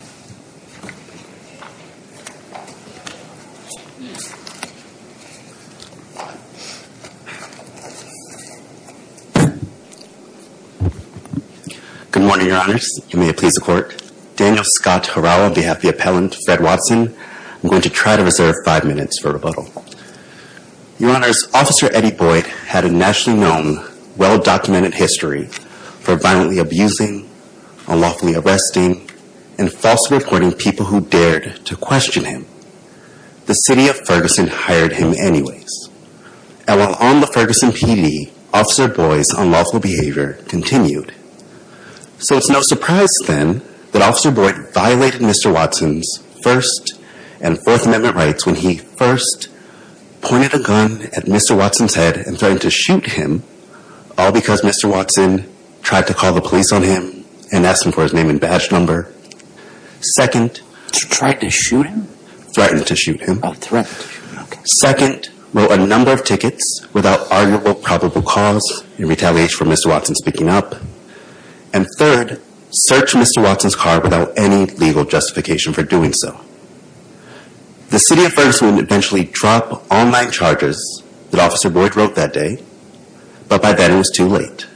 Good morning, Your Honors. You may please report. Daniel Scott Harawa on behalf of the appellant Fred Watson. I'm going to try to reserve five minutes for rebuttal. Your Honors, Officer Eddie Boyd had a nationally known, well-documented history for violently abusing, unlawfully arresting, and false reporting people who dared to question him. The city of Ferguson hired him anyways. And while on the Ferguson PD, Officer Boyd's unlawful behavior continued. So it's no surprise then that Officer Boyd violated Mr. Watson's First and Fourth Amendment rights when he first pointed a gun at Mr. Watson's head and threatened to shoot him, all because Mr. Watson tried to call the police on him and ask him for his name and badge number. Second, threatened to shoot him. Second, wrote a number of tickets without arguable probable cause in retaliation for Mr. Watson speaking up. And third, searched Mr. Watson's car without any legal justification for doing so. The city of Ferguson would eventually drop all nine charges that Officer Boyd wrote that day, but by then it was too late.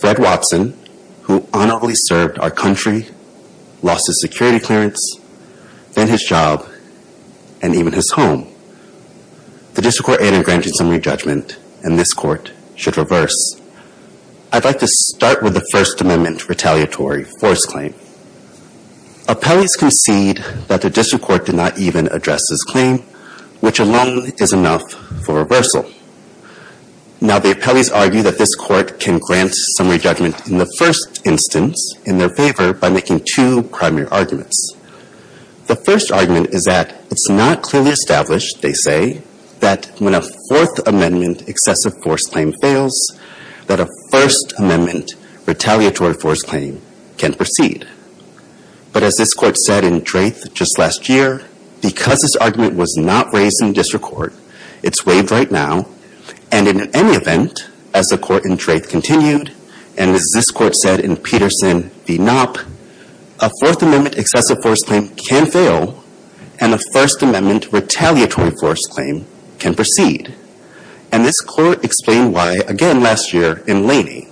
Fred Watson, who honorably served our country, lost his security clearance, then his job, and even his home. The district court ended granting some re-judgment and this court should reverse. I'd like to start with the First Amendment retaliatory force claim. Appellants concede that the district court did not even address this claim, which alone is enough for reversal. Now the appellees argue that this court can grant some re-judgment in the first instance in their favor by making two primary arguments. The first argument is that it's not clearly established, they say, that when a Fourth Amendment excessive force claim fails, that a First Amendment retaliatory force claim can proceed. But as this court said in Drath just last year, because this argument was not raised in district court, it's waived right now, and in any event, as the court in Drath continued, and as this court said in Peterson v. Knopp, a Fourth Amendment excessive force claim can fail and a First Amendment retaliatory force claim can proceed. And this court explained why again last year in Laney.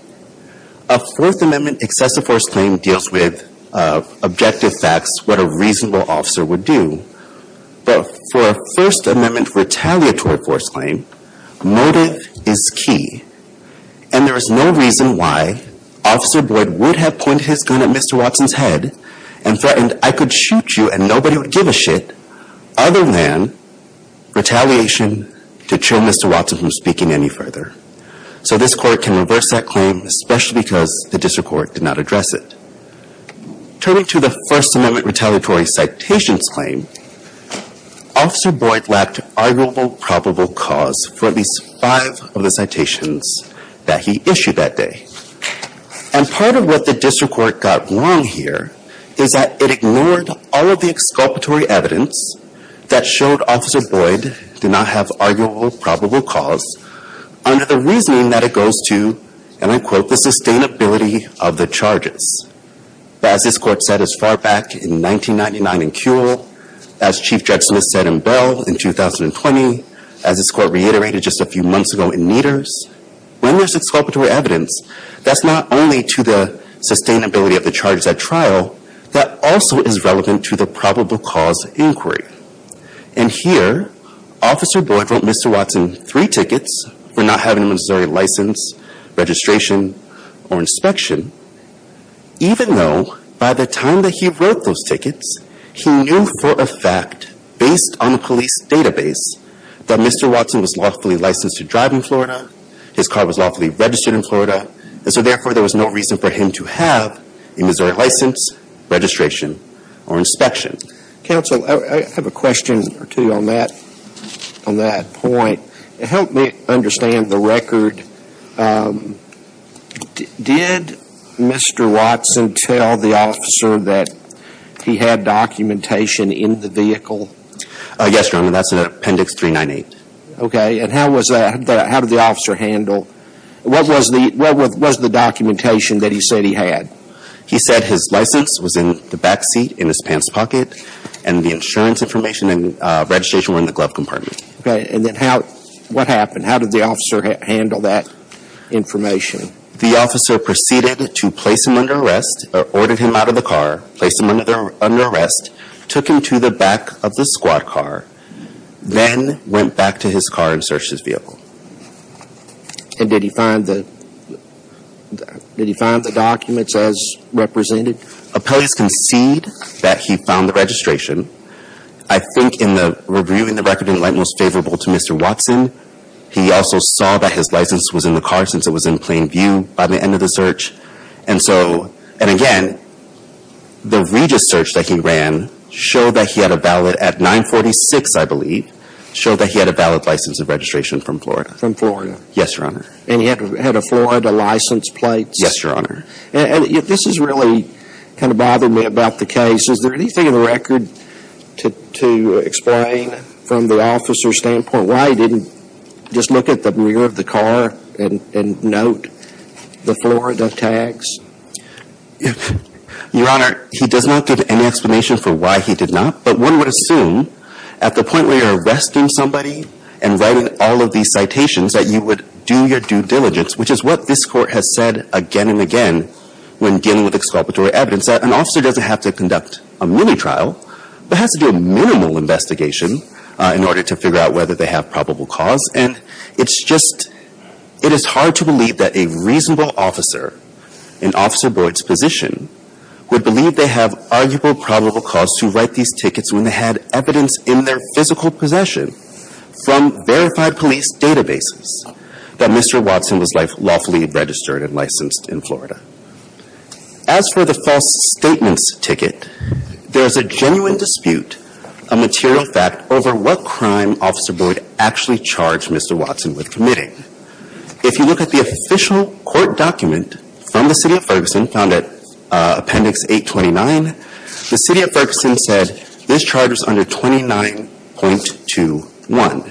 A Fourth Amendment excessive force claim deals with objective facts, what a reasonable officer would do. But for a First Amendment retaliatory force claim, motive is key. And there is no reason why Officer Boyd would have pointed his gun at Mr. Watson's head and threatened, I could shoot you and nobody would give a shit, other than retaliation to trim Mr. Watson from speaking any further. So this court can reverse that claim, especially because the district court did not address it. Turning to the First Amendment retaliatory citations claim, Officer Boyd lacked arguable probable cause for at least five of the citations that he issued that day. And part of what the district court got wrong here is that it ignored all of the exculpatory evidence that showed Officer Boyd did not have arguable probable cause under the reasoning that it goes to, and I quote, the sustainability of the charges. As this court said as far back in 1999 in Kewel, as Chief Judge Smith said in Bell in 2020, as this court reiterated just a few months ago in Meadors, when there's exculpatory evidence, that's not only to the sustainability of the charges at trial, that also is relevant to the probable cause inquiry. And here, Officer Boyd wrote Mr. Watson three tickets for not having a Missouri license, registration, or inspection, even though by the time that he wrote those tickets, he knew for a fact, based on the police database, that Mr. Watson was lawfully licensed to drive in Florida, his car was lawfully registered in registration or inspection. Counsel, I have a question or two on that point. Help me understand the record. Did Mr. Watson tell the officer that he had documentation in the vehicle? Yes, Your Honor, that's in appendix 398. Okay, and how did the officer handle, what was the documentation that he said he had? He said his license was in the back seat, in his pants pocket, and the insurance information and registration were in the glove compartment. Okay, and then what happened? How did the officer handle that information? The officer proceeded to place him under arrest, or ordered him out of the car, placed him under arrest, took him to the back of the squad car, then went back to his car and searched his vehicle. Okay, and did he find the documents as represented? Appellants concede that he found the registration. I think in reviewing the record, it didn't like most favorable to Mr. Watson. He also saw that his license was in the car, since it was in plain view by the end of the search. And so, and again, the Regis search that he ran showed that he had a valid, at 946 I believe, showed that he had a valid license of registration from Florida. From Florida? Yes, Your Honor. And he had a Florida license plate? Yes, Your Honor. And this has really kind of bothered me about the case. Is there anything in the record to explain from the officer's standpoint why he didn't just look at the rear of the car and note the Florida tags? Your Honor, he does not give any explanation for why he did not, but one would that you would do your due diligence, which is what this Court has said again and again when dealing with exculpatory evidence, that an officer doesn't have to conduct a mini-trial, but has to do a minimal investigation in order to figure out whether they have probable cause. And it's just, it is hard to believe that a reasonable officer in Officer Boyd's position would believe they have arguable probable cause to write these tickets when they had evidence in their physical possession from verified police databases that Mr. Watson was lawfully registered and licensed in Florida. As for the false statements ticket, there is a genuine dispute, a material fact over what crime Officer Boyd actually charged Mr. Watson with committing. If you look at the official court document from the City of Ferguson, found at Appendix 829, the City of Ferguson said this charge was under 29.21.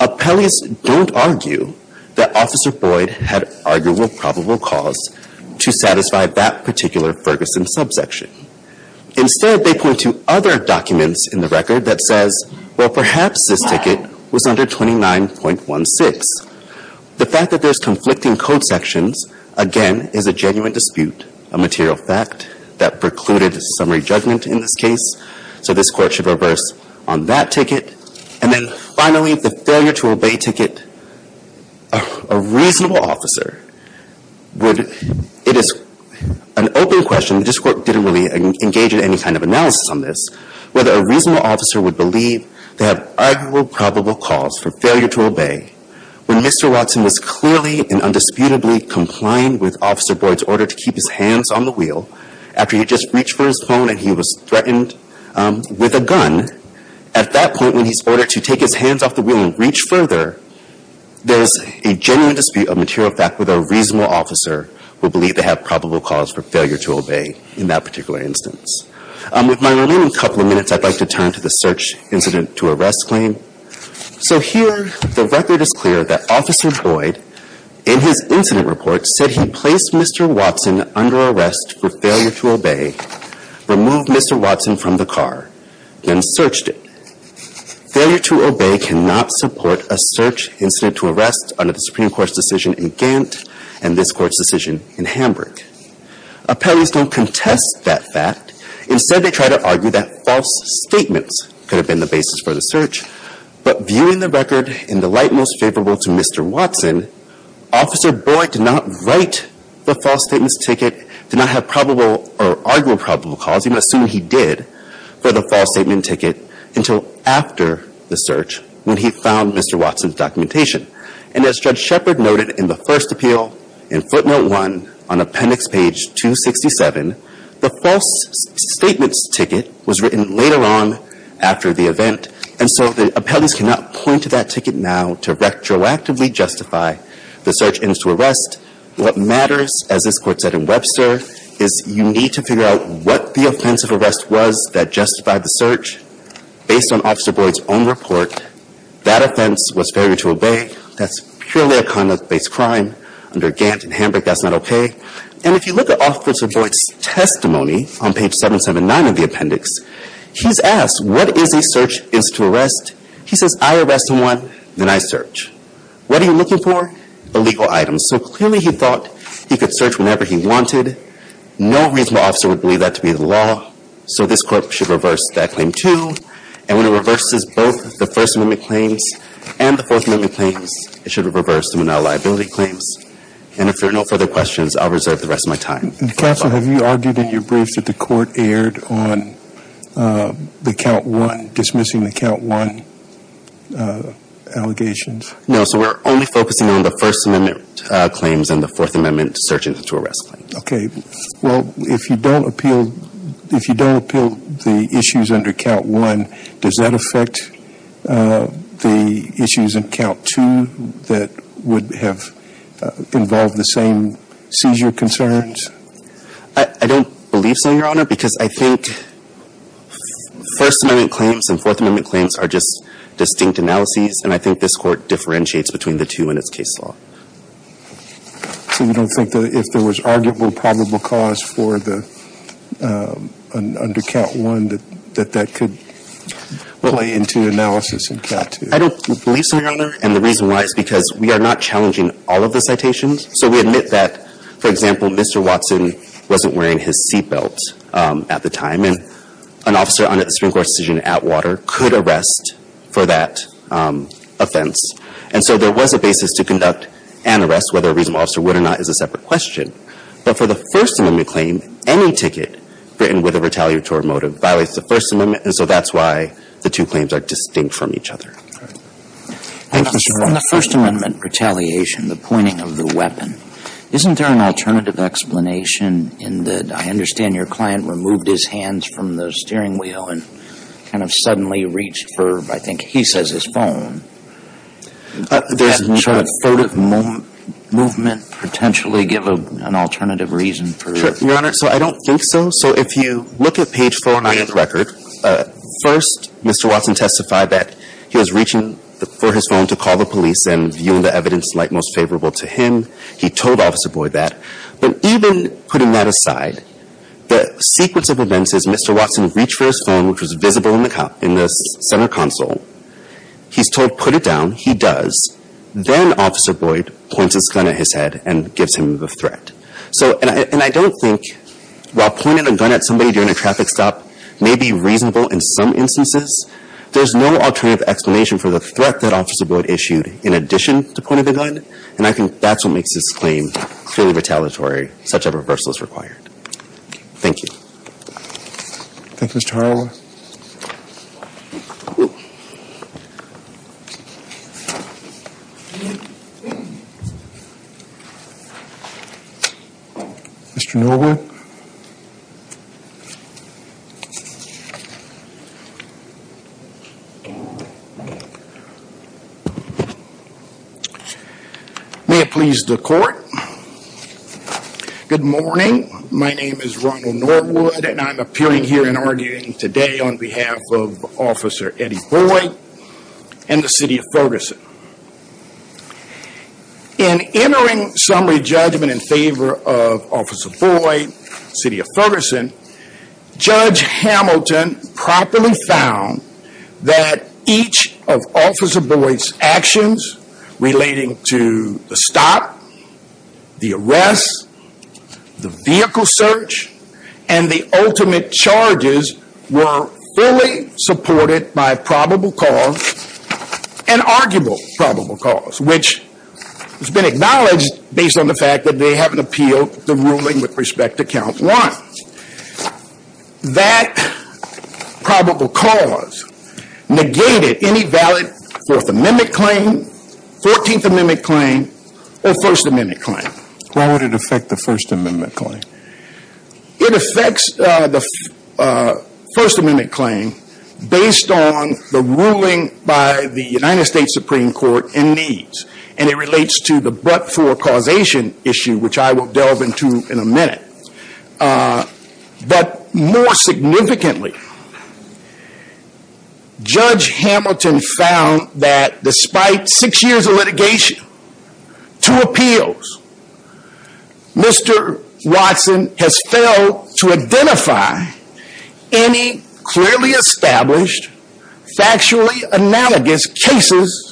Appellees don't argue that Officer Boyd had arguable probable cause to satisfy that particular Ferguson subsection. Instead, they point to other documents in the record that says, well, perhaps this ticket was under 29.16. The fact that there's conflicting code sections, again, is a genuine dispute, a material fact that precluded summary judgment in this case. So this Court should reverse on that ticket. And then finally, the failure to obey ticket. A reasonable officer would, it is an open question, this Court didn't really engage in any kind of analysis on this, whether a reasonable officer would believe they have arguable probable cause for failure to obey when Mr. Watson was clearly and undisputably complying with Officer Boyd's order to keep his hands on the wheel after he just reached for his phone and he was threatened with a gun. At that point, when he's ordered to take his hands off the wheel and reach further, there's a genuine dispute, a material fact, whether a reasonable officer would believe they have probable cause for failure to obey in that particular instance. With my remaining couple of minutes, I'd like to turn to the search incident to arrest claim. So here, the record is clear that Officer Boyd, in his incident report, said he placed Mr. Watson under arrest for failure to obey, removed Mr. Watson from the car, then searched it. Failure to obey cannot support a search incident to arrest under the Supreme Court's decision in Gant and this Court's decision in Hamburg. Appellees don't contest that fact. Could have been the basis for the search, but viewing the record in the light most favorable to Mr. Watson, Officer Boyd did not write the false statements ticket, did not have probable or arguable probable cause, even assuming he did, for the false statement ticket until after the search when he found Mr. Watson's documentation. And as Judge Shepard noted in the first appeal in footnote one on appendix page 267, the false statements ticket was written later on after the event, and so the appellees cannot point to that ticket now to retroactively justify the search into arrest. What matters, as this Court said in Webster, is you need to figure out what the offense of arrest was that justified the search. Based on Officer Boyd's own report, that offense was failure to obey. That's purely a conduct-based crime under Gant and Hamburg. That's not okay. And if you look at Officer Boyd's testimony on page 779 of the appendix, he's asked, what is a search incident to arrest? He says, I arrest someone, then I search. What are you looking for? Illegal items. So clearly he thought he could search whenever he wanted. No reasonable officer would believe that to be the law. So this Court should reverse that claim and when it reverses both the First Amendment claims and the Fourth Amendment claims, it should reverse the liability claims. And if there are no further questions, I'll reserve the rest of my time. And Counsel, have you argued in your briefs that the Court erred on the count one, dismissing the count one allegations? No. So we're only focusing on the First Amendment claims and the Fourth Amendment search into arrest. Okay. Well, if you don't appeal, if you don't appeal the issues under count one, does that affect the issues in count two that would have involved the same seizure concerns? I don't believe so, Your Honor, because I think First Amendment claims and Fourth Amendment claims are just distinct analyses. And I think this Court differentiates between the two in its case law. So you don't think that if there was arguable probable cause for the, under count one, that that could play into analysis in count two? I don't believe so, Your Honor. And the reason why is because we are not challenging all of the citations. So we admit that, for example, Mr. Watson wasn't wearing his seat belt at the time and an officer under the Supreme Court decision at water could arrest for that offense. And so there was a basis to conduct an arrest, whether a reasonable officer would or not is a separate question. But for the First Amendment claim, any ticket written with a retaliatory motive violates the First Amendment. And so that's why the two claims are distinct from each other. All right. Thank you, sir. On the First Amendment retaliation, the pointing of the weapon, isn't there an alternative explanation in that I understand your client removed his hands from the steering wheel and kind of suddenly reached for, I think he says, his phone? Does that sort of movement potentially give an alternative reason for it? Your Honor, so I don't think so. So if you look at page 49 of the record, first, Mr. Watson testified that he was reaching for his phone to call the police and viewing the evidence like most favorable to him. He told Officer Boyd that. But even putting that aside, the sequence of events is Mr. Watson reached for his phone, which was in the center console. He's told put it down. He does. Then Officer Boyd points his gun at his head and gives him the threat. So and I don't think while pointing a gun at somebody during a traffic stop may be reasonable in some instances, there's no alternative explanation for the threat that Officer Boyd issued in addition to pointing the gun. And I think that's what makes this claim clearly retaliatory, such a reversal is required. Thank you. Thank you, Mr. Harlan. Mr. Norwood. Thank you. May it please the court. Good morning. My name is Ronald Norwood and I'm appearing here and arguing today on behalf of Officer Eddie Boyd and the city of Ferguson. In entering summary judgment in favor of Officer Boyd, city of Ferguson, Judge Hamilton properly found that each of Officer Boyd's actions relating to the stop, the arrest, the vehicle search, and the ultimate charges were fully supported by probable cause and arguable probable cause, which has been acknowledged based on the fact that they haven't appealed the ruling with respect to count one. That probable cause negated any valid Fourth Amendment claim, Fourteenth Amendment claim, or First Amendment claim. Why would it affect the First Amendment claim? It affects the First Amendment claim based on the ruling by the United States Supreme Court in these. And it relates to the but for causation issue, which I will delve into in a minute. But more significantly, Judge Hamilton found that despite six years of litigation, two appeals, Mr. Watson has failed to identify any clearly established, factually analogous cases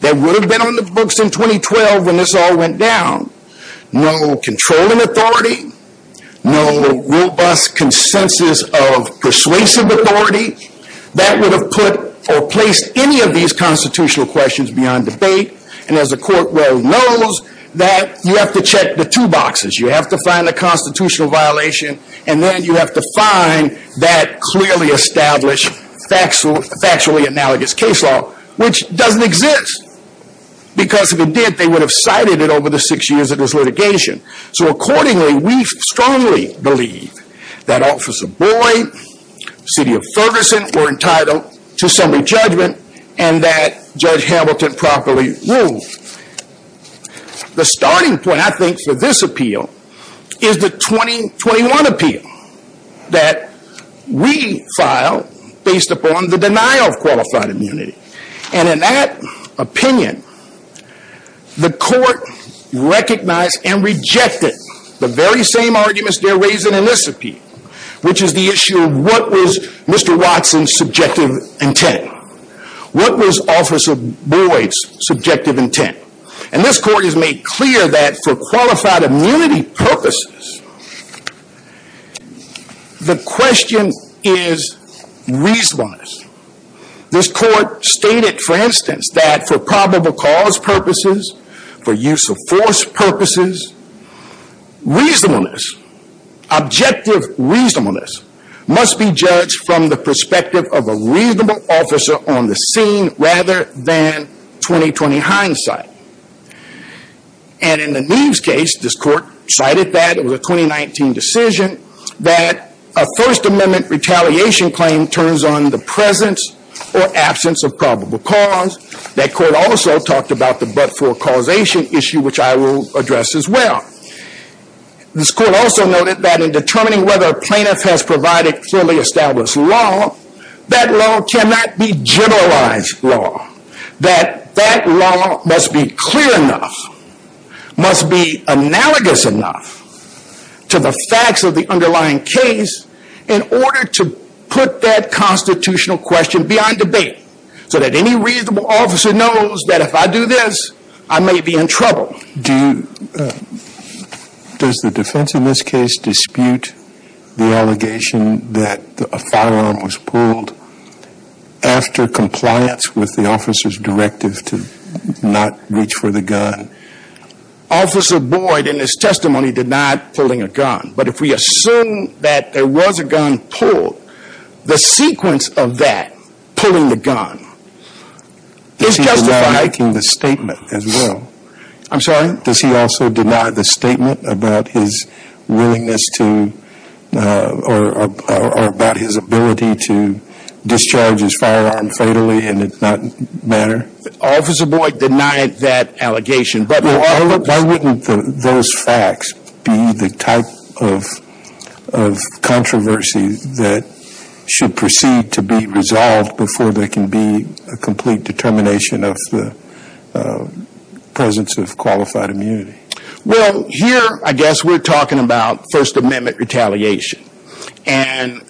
that would have been on the books in 2012 when this all went down. No controlling authority. No robust consensus of persuasive authority. That would have put or placed any of these constitutional questions beyond debate. And as the court well knows, that you have to check the two boxes. You have to find the constitutional violation, and then you have to find that clearly established factually analogous case law, which doesn't exist. Because if it did, they would have cited it over the six years of this litigation. So accordingly, we strongly believe that Officer Boyd, City of Ferguson were entitled to assembly judgment and that Judge Hamilton properly ruled. The starting point, I think, for this appeal is the 2021 appeal that we filed based upon the denial of qualified immunity. And in that opinion, the court recognized and rejected the very same arguments they're raising in this appeal, which is the issue of what was Mr. Watson's subjective intent? What was Officer Boyd's subjective intent? And this court has made clear that for qualified stated, for instance, that for probable cause purposes, for use of force purposes, reasonableness, objective reasonableness must be judged from the perspective of a reasonable officer on the scene rather than 20-20 hindsight. And in the Neves case, this court cited that it was a 2019 decision that a First Amendment retaliation claim turns on the presence or cause. That court also talked about the but-for causation issue, which I will address as well. This court also noted that in determining whether a plaintiff has provided fully established law, that law cannot be generalized law, that that law must be clear enough, must be analogous enough to the facts of the underlying case in order to put that constitutional question beyond debate. So that any reasonable officer knows that if I do this, I may be in trouble. Does the defense in this case dispute the allegation that a firearm was pulled after compliance with the officer's directive to not reach for the gun? Officer Boyd, in his testimony, denied pulling a gun. But if we assume that there was a gun pulled, the sequence of that, pulling the gun, is justified. Does he deny making the statement as well? I'm sorry? Does he also deny the statement about his willingness to, or about his ability to discharge his firearm fatally in a not manner? Officer Boyd denied that allegation. Why wouldn't those facts be the type of controversy that should proceed to be resolved before there can be a complete determination of the presence of qualified immunity? Well, here, I guess we're talking about First Amendment retaliation. And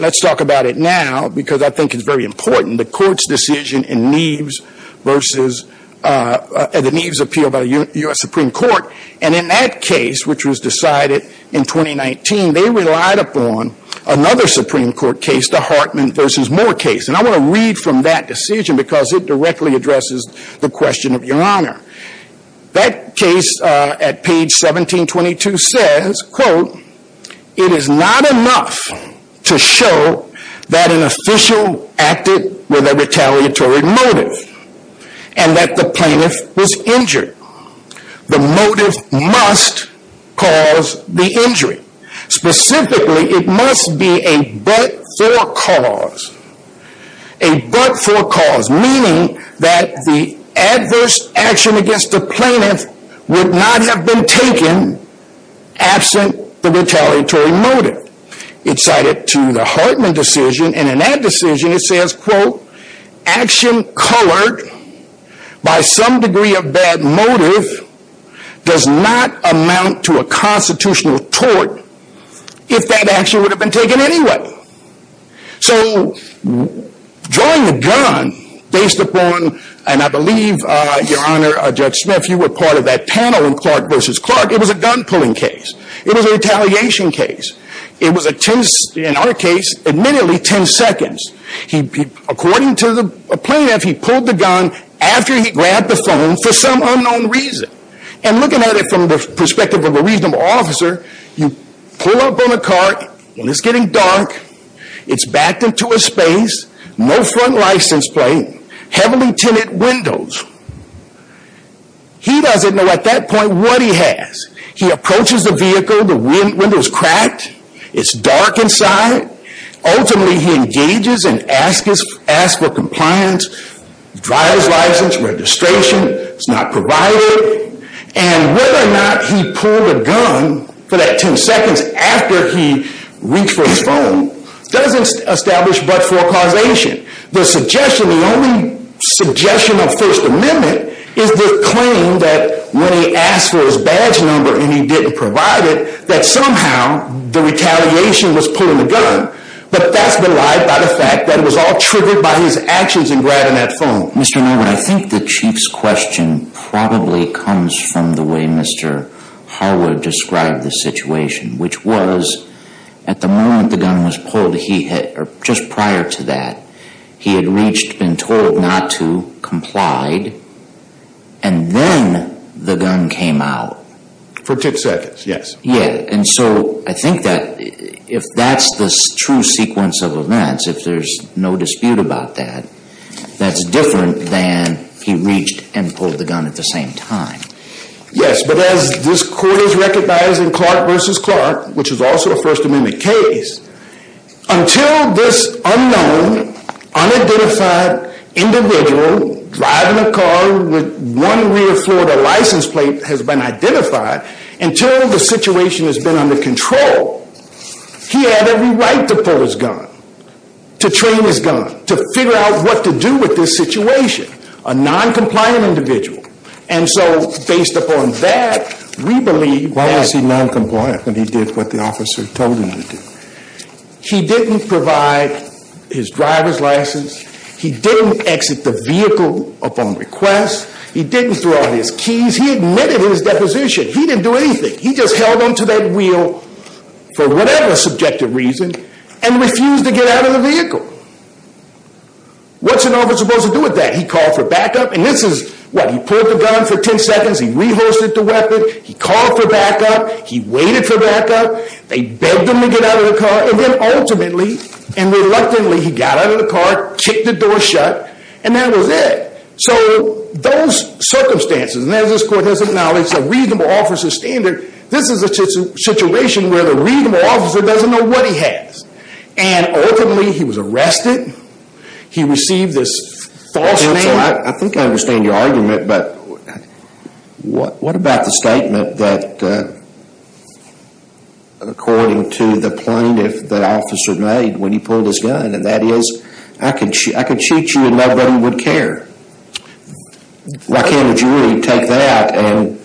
let's talk about it now, because I think it's very important. The court's decision in the Neves Appeal by the U.S. Supreme Court. And in that case, which was decided in 2019, they relied upon another Supreme Court case, the Hartman v. Moore case. And I want to read from that decision because it directly addresses the question of your honor. That case at page 1722 says, quote, it is not enough to show that an official acted with a retaliatory motive, and that the plaintiff was injured. The motive must cause the injury. Specifically, it must be a but-for cause. A but-for cause, meaning that the adverse action against the plaintiff would not have been taken absent the retaliatory motive. It's cited to the Hartman decision. And in that decision, it says, quote, action colored by some degree of bad motive does not amount to a constitutional tort if that action would have been taken anyway. So drawing the gun based upon, and I believe, your honor, Judge Smith, you were part of that panel in Clark v. Clark. It was a gun pulling case. It was a retaliation case. It was, in our case, admittedly, 10 seconds. According to the plaintiff, he pulled the gun after he grabbed the phone for some unknown reason. And looking at it from the perspective of a reasonable officer, you pull up on a car when it's getting dark. It's backed into a space, no front license plate, heavily tinted windows. He doesn't know, at that point, what he has. He approaches the vehicle. The window's cracked. It's dark inside. Ultimately, he engages and asks for compliance, drives license, registration. It's not provided. And whether or not he pulled a gun for that 10 seconds after he reached for his phone doesn't establish but-for causation. The suggestion, the only suggestion of First Amendment, is the claim that when he asked for his badge number and he didn't provide it, that somehow the retaliation was pulling the gun. But that's been lied by the fact that it was all triggered by his actions in grabbing that phone. Mr. Norwood, I think the Chief's question probably comes from the way Mr. Harwood described the situation, which was, at the moment the gun was pulled, he had-or just prior to that, he had reached, been told not to, complied, and then the gun came out. For 10 seconds, yes. Yeah. And so I think that if that's the true sequence of events, if there's no dispute about that, that's different than he reached and pulled the gun at the same time. Yes. But as this Court has recognized in Clark v. Clark, which is also a First Amendment case, until this unknown, unidentified individual driving a car with one rear Florida license plate has been identified, until the situation has been under control, he had every right to pull his gun, to train his gun, to figure out what to do with this situation, a noncompliant individual. And so based upon that, we believe- Why was he noncompliant when he did what the officer told him to do? He didn't provide his driver's license. He didn't exit the vehicle upon request. He didn't throw out his keys. He admitted his deposition. He didn't do anything. He just held on to that wheel for whatever subjective reason and refused to get out of the vehicle. What's an officer supposed to do with that? He called for backup. And this is what? He pulled the gun for 10 seconds. He re-holstered the weapon. He called for backup. He waited for backup. They begged him to get out of the car. And then ultimately and reluctantly, he got out of the car, kicked the door shut, and that was it. So those circumstances, and as this court has acknowledged, the reasonable officer's standard, this is a situation where the reasonable officer doesn't know what he has. And ultimately, he was arrested. He received this false name. I think I understand your argument. But what about the statement that, according to the plaintiff, the officer made when he pulled his gun, and that is, I could shoot you and nobody would care. Why can't a jury take that and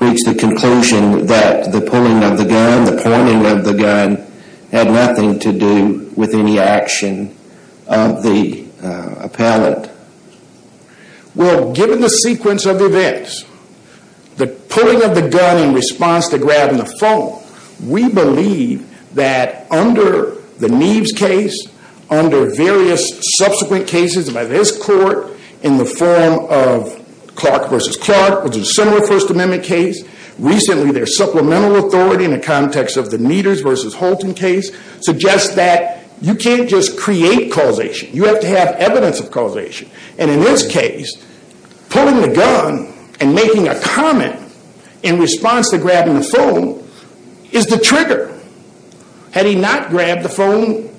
reach the conclusion that the pulling of the gun, the pointing of the gun, had nothing to do with any action of the appellant? Well, given the sequence of events, the pulling of the gun in response to grabbing the phone, we believe that under the Neves case, under various subsequent cases by this court in the form of Clark versus Clark, which is a similar First Amendment case, recently their supplemental authority in the context of the Meaders versus Holton case suggests that you can't just create causation. You have to have evidence of causation. And in this case, pulling the gun and making a comment in response to grabbing the phone is the trigger. Had he not grabbed the phone,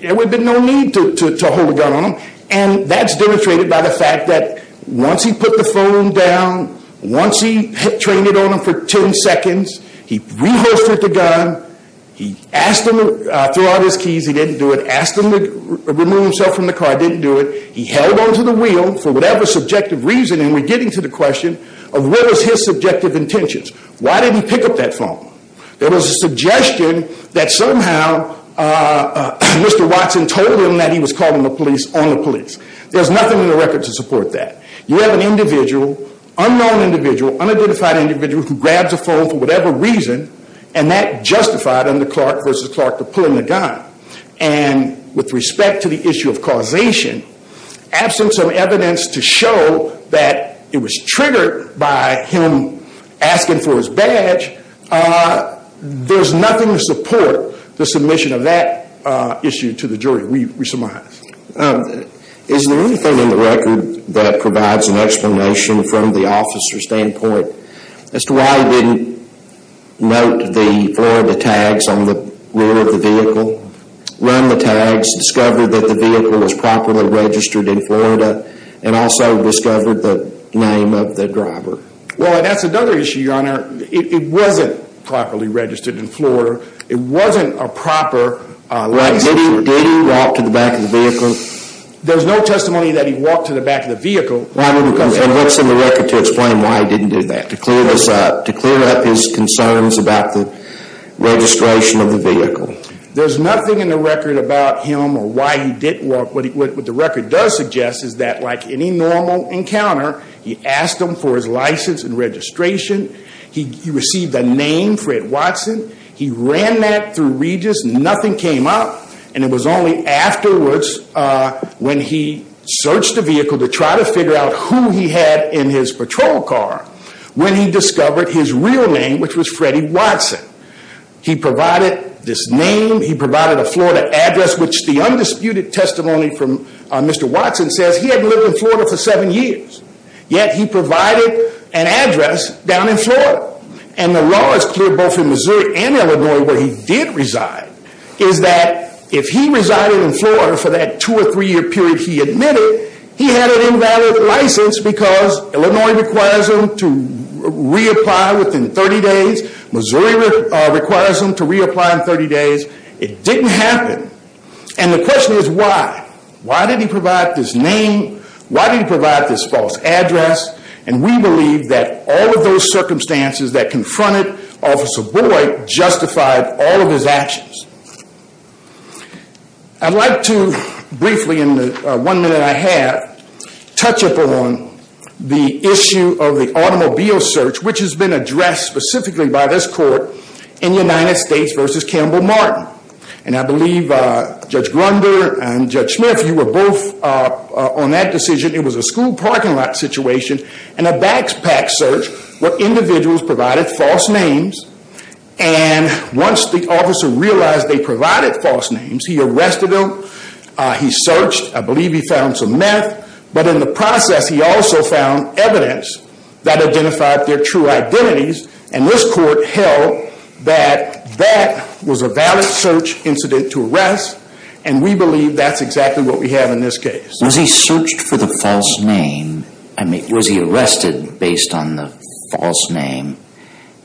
there would have been no need to hold a gun on him. And that's demonstrated by the fact that once he put the phone down, once he trained it on him for 10 seconds, he rehosted the gun, he asked him to throw out his keys, he didn't do it. Asked him to remove himself from the car, didn't do it. He held onto the wheel for whatever subjective reason, and we're getting to the question of what was his subjective intentions. Why didn't he pick up that phone? There was a suggestion that somehow Mr. Watson told him that he was calling the police on the police. There's nothing in the record to support that. You have an individual, unknown individual, unidentified individual who grabs a phone for whatever reason, and that justified under Clark versus Clark the pulling the gun. And with respect to the issue of causation, absence of evidence to show that it was triggered by him asking for his badge, there's nothing to support the submission of that issue to the jury. We surmise. Is there anything in the record that provides an explanation from the officer's standpoint as to why he didn't note the Florida tags on the rear of the vehicle, run the tags, discover that the vehicle was properly registered in Florida, and also discover the name of the driver? Well, that's another issue, Your Honor. It wasn't properly registered in Florida. It wasn't a proper license. Did he walk to the back of the vehicle? There's no testimony that he walked to the back of the vehicle. And what's in the record to explain why he didn't do that, to clear this up, to clear up his concerns about the registration of the vehicle? There's nothing in the record about him or why he didn't walk. What the record does suggest is that like any normal encounter, he asked them for his license and registration. He received a name, Fred Watson. He ran that through Regis. Nothing came up. And it was only afterwards when he searched the vehicle to try to figure out who he had in his patrol car when he discovered his real name, which was Freddie Watson. He provided this name. He provided a Florida address, which the undisputed testimony from Mr. Watson says he hadn't lived in Florida for seven years, yet he provided an address down in Florida. And the law is clear both in Missouri and Illinois where he did reside, is that if he resided in Florida for that two or three year period he admitted, he had an invalid license because Illinois requires him to reapply within 30 days. Missouri requires him to reapply in 30 days. It didn't happen. And the question is why? Why did he provide this name? Why did he provide this false address? And we believe that all of those circumstances that confronted Officer Boyd justified all of his actions. I'd like to briefly in the one minute I have, touch upon the issue of the automobile search, which has been addressed specifically by this court in United States v. Campbell Martin. And I believe Judge Grunder and Judge Smith, you were both on that decision. It was a school parking lot situation and a backpack search where individuals provided false names and once the officer realized they provided false names he arrested them, he searched, I believe he found some meth, but in the process he also found evidence that identified their true identities and this court held that that was a valid search incident to arrest and we believe that's exactly what we have in this case. Was he searched for the false name? Was he arrested based on the false name?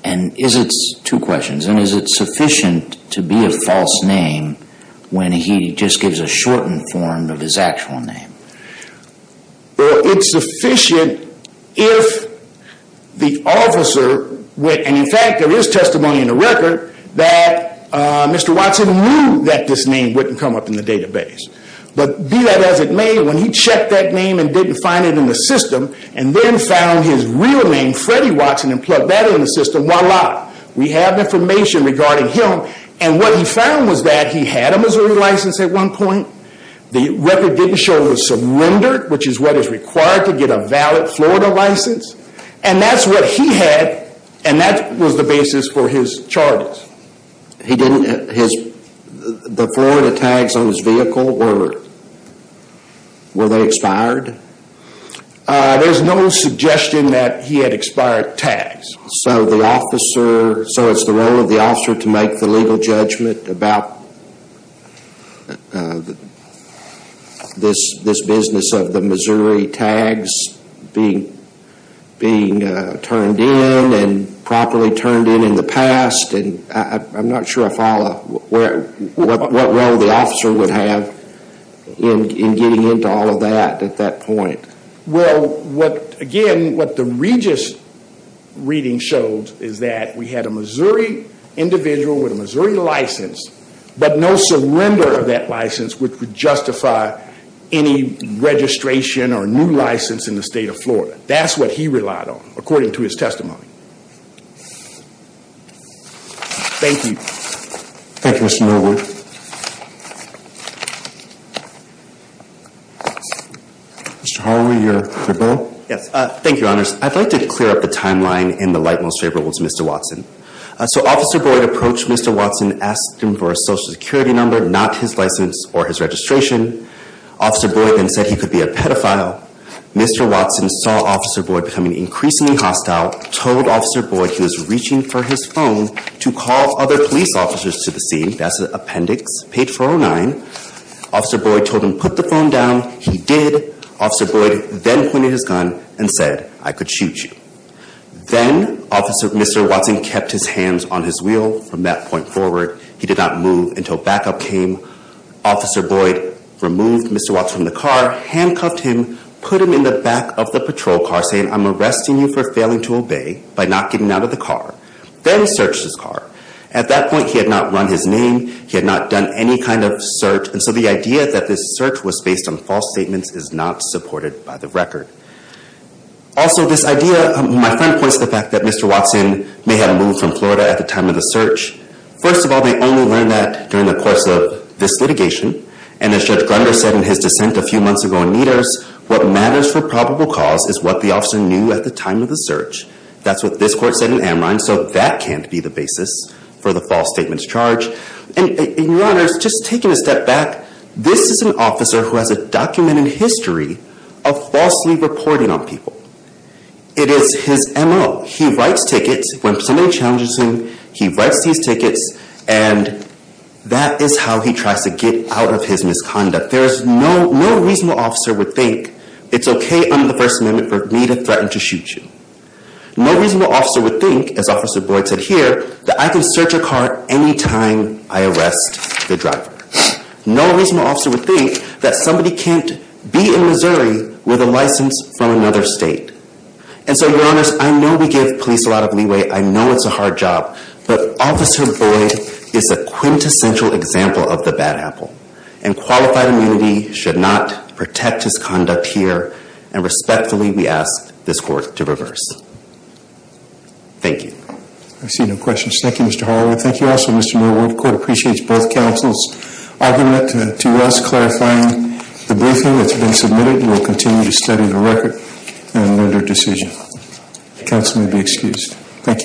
And is it, two questions, and is it sufficient to be a false name when he just gives a shortened form of his actual name? It's sufficient if the officer, and in fact there is testimony in the record that Mr. Watson knew that this name wouldn't come up in the database. But be that as it may, when he checked that name and didn't find it in the system and then found his real name, Freddy Watson, and plugged that in the system, voila, we have information regarding him and what he found was that he had a Missouri license at one point, the record didn't show he was surrendered, which is what is required to get a valid Florida license, and that's what he had and that was the basis for his charges. He didn't, the Florida tags on his vehicle, were they expired? There's no suggestion that he had expired tags. So the officer, so it's the role of the officer to make the legal judgment about this business of the Missouri tags being turned in and properly turned in in the past, I'm not sure I follow what role the officer would have in getting into all of that at that point. Well, again, what the Regis reading showed is that we had a Missouri individual with a Missouri license, but no surrender of that license which would justify any registration or new license in the state of Florida. That's what he relied on, according to his testimony. Thank you. Thank you, Mr. Millward. Mr. Hallward, your bill. Yes, thank you, honors. I'd like to clear up the timeline in the light most favorable to Mr. Watson. So Officer Boyd approached Mr. Watson, asked him for a social security number, not his license or his registration. Officer Boyd then said he could be a pedophile. Mr. Watson saw Officer Boyd becoming increasingly hostile, told Officer Boyd he was reaching for his phone to call other police officers to the scene. That's the appendix, page 409. Officer Boyd told him, put the phone down. He did. Officer Boyd then pointed his gun and said, I could shoot you. Then Mr. Watson kept his hands on his wheel from that point forward. He did not move until backup came. Officer Boyd removed Mr. Watson from the car, handcuffed him, put him in the back of the Then searched his car. At that point, he had not run his name. He had not done any kind of search. And so the idea that this search was based on false statements is not supported by the record. Also, this idea, my friend points to the fact that Mr. Watson may have moved from Florida at the time of the search. First of all, they only learned that during the course of this litigation. And as Judge Grunder said in his dissent a few months ago in Meters, what matters for probable cause is what the officer knew at the time of the search. That's what this court said in Amrine. That can't be the basis for the false statements charge. And in your honors, just taking a step back, this is an officer who has a documented history of falsely reporting on people. It is his MO. He writes tickets when somebody challenges him. He writes these tickets and that is how he tries to get out of his misconduct. No reasonable officer would think it's okay under the First Amendment for me to threaten to shoot you. No reasonable officer would think, as Officer Boyd said here, that I can search a car anytime I arrest the driver. No reasonable officer would think that somebody can't be in Missouri with a license from another state. And so your honors, I know we give police a lot of leeway. I know it's a hard job, but Officer Boyd is a quintessential example of the bad apple and qualified immunity should not protect his conduct here. And respectfully, we ask this court to reverse. Thank you. I see no questions. Thank you, Mr. Holloway. Thank you also, Mr. Millward. The court appreciates both counsel's argument. To us, clarifying the briefing that's been submitted, we will continue to study the record and render a decision. The counsel may be excused. Thank you.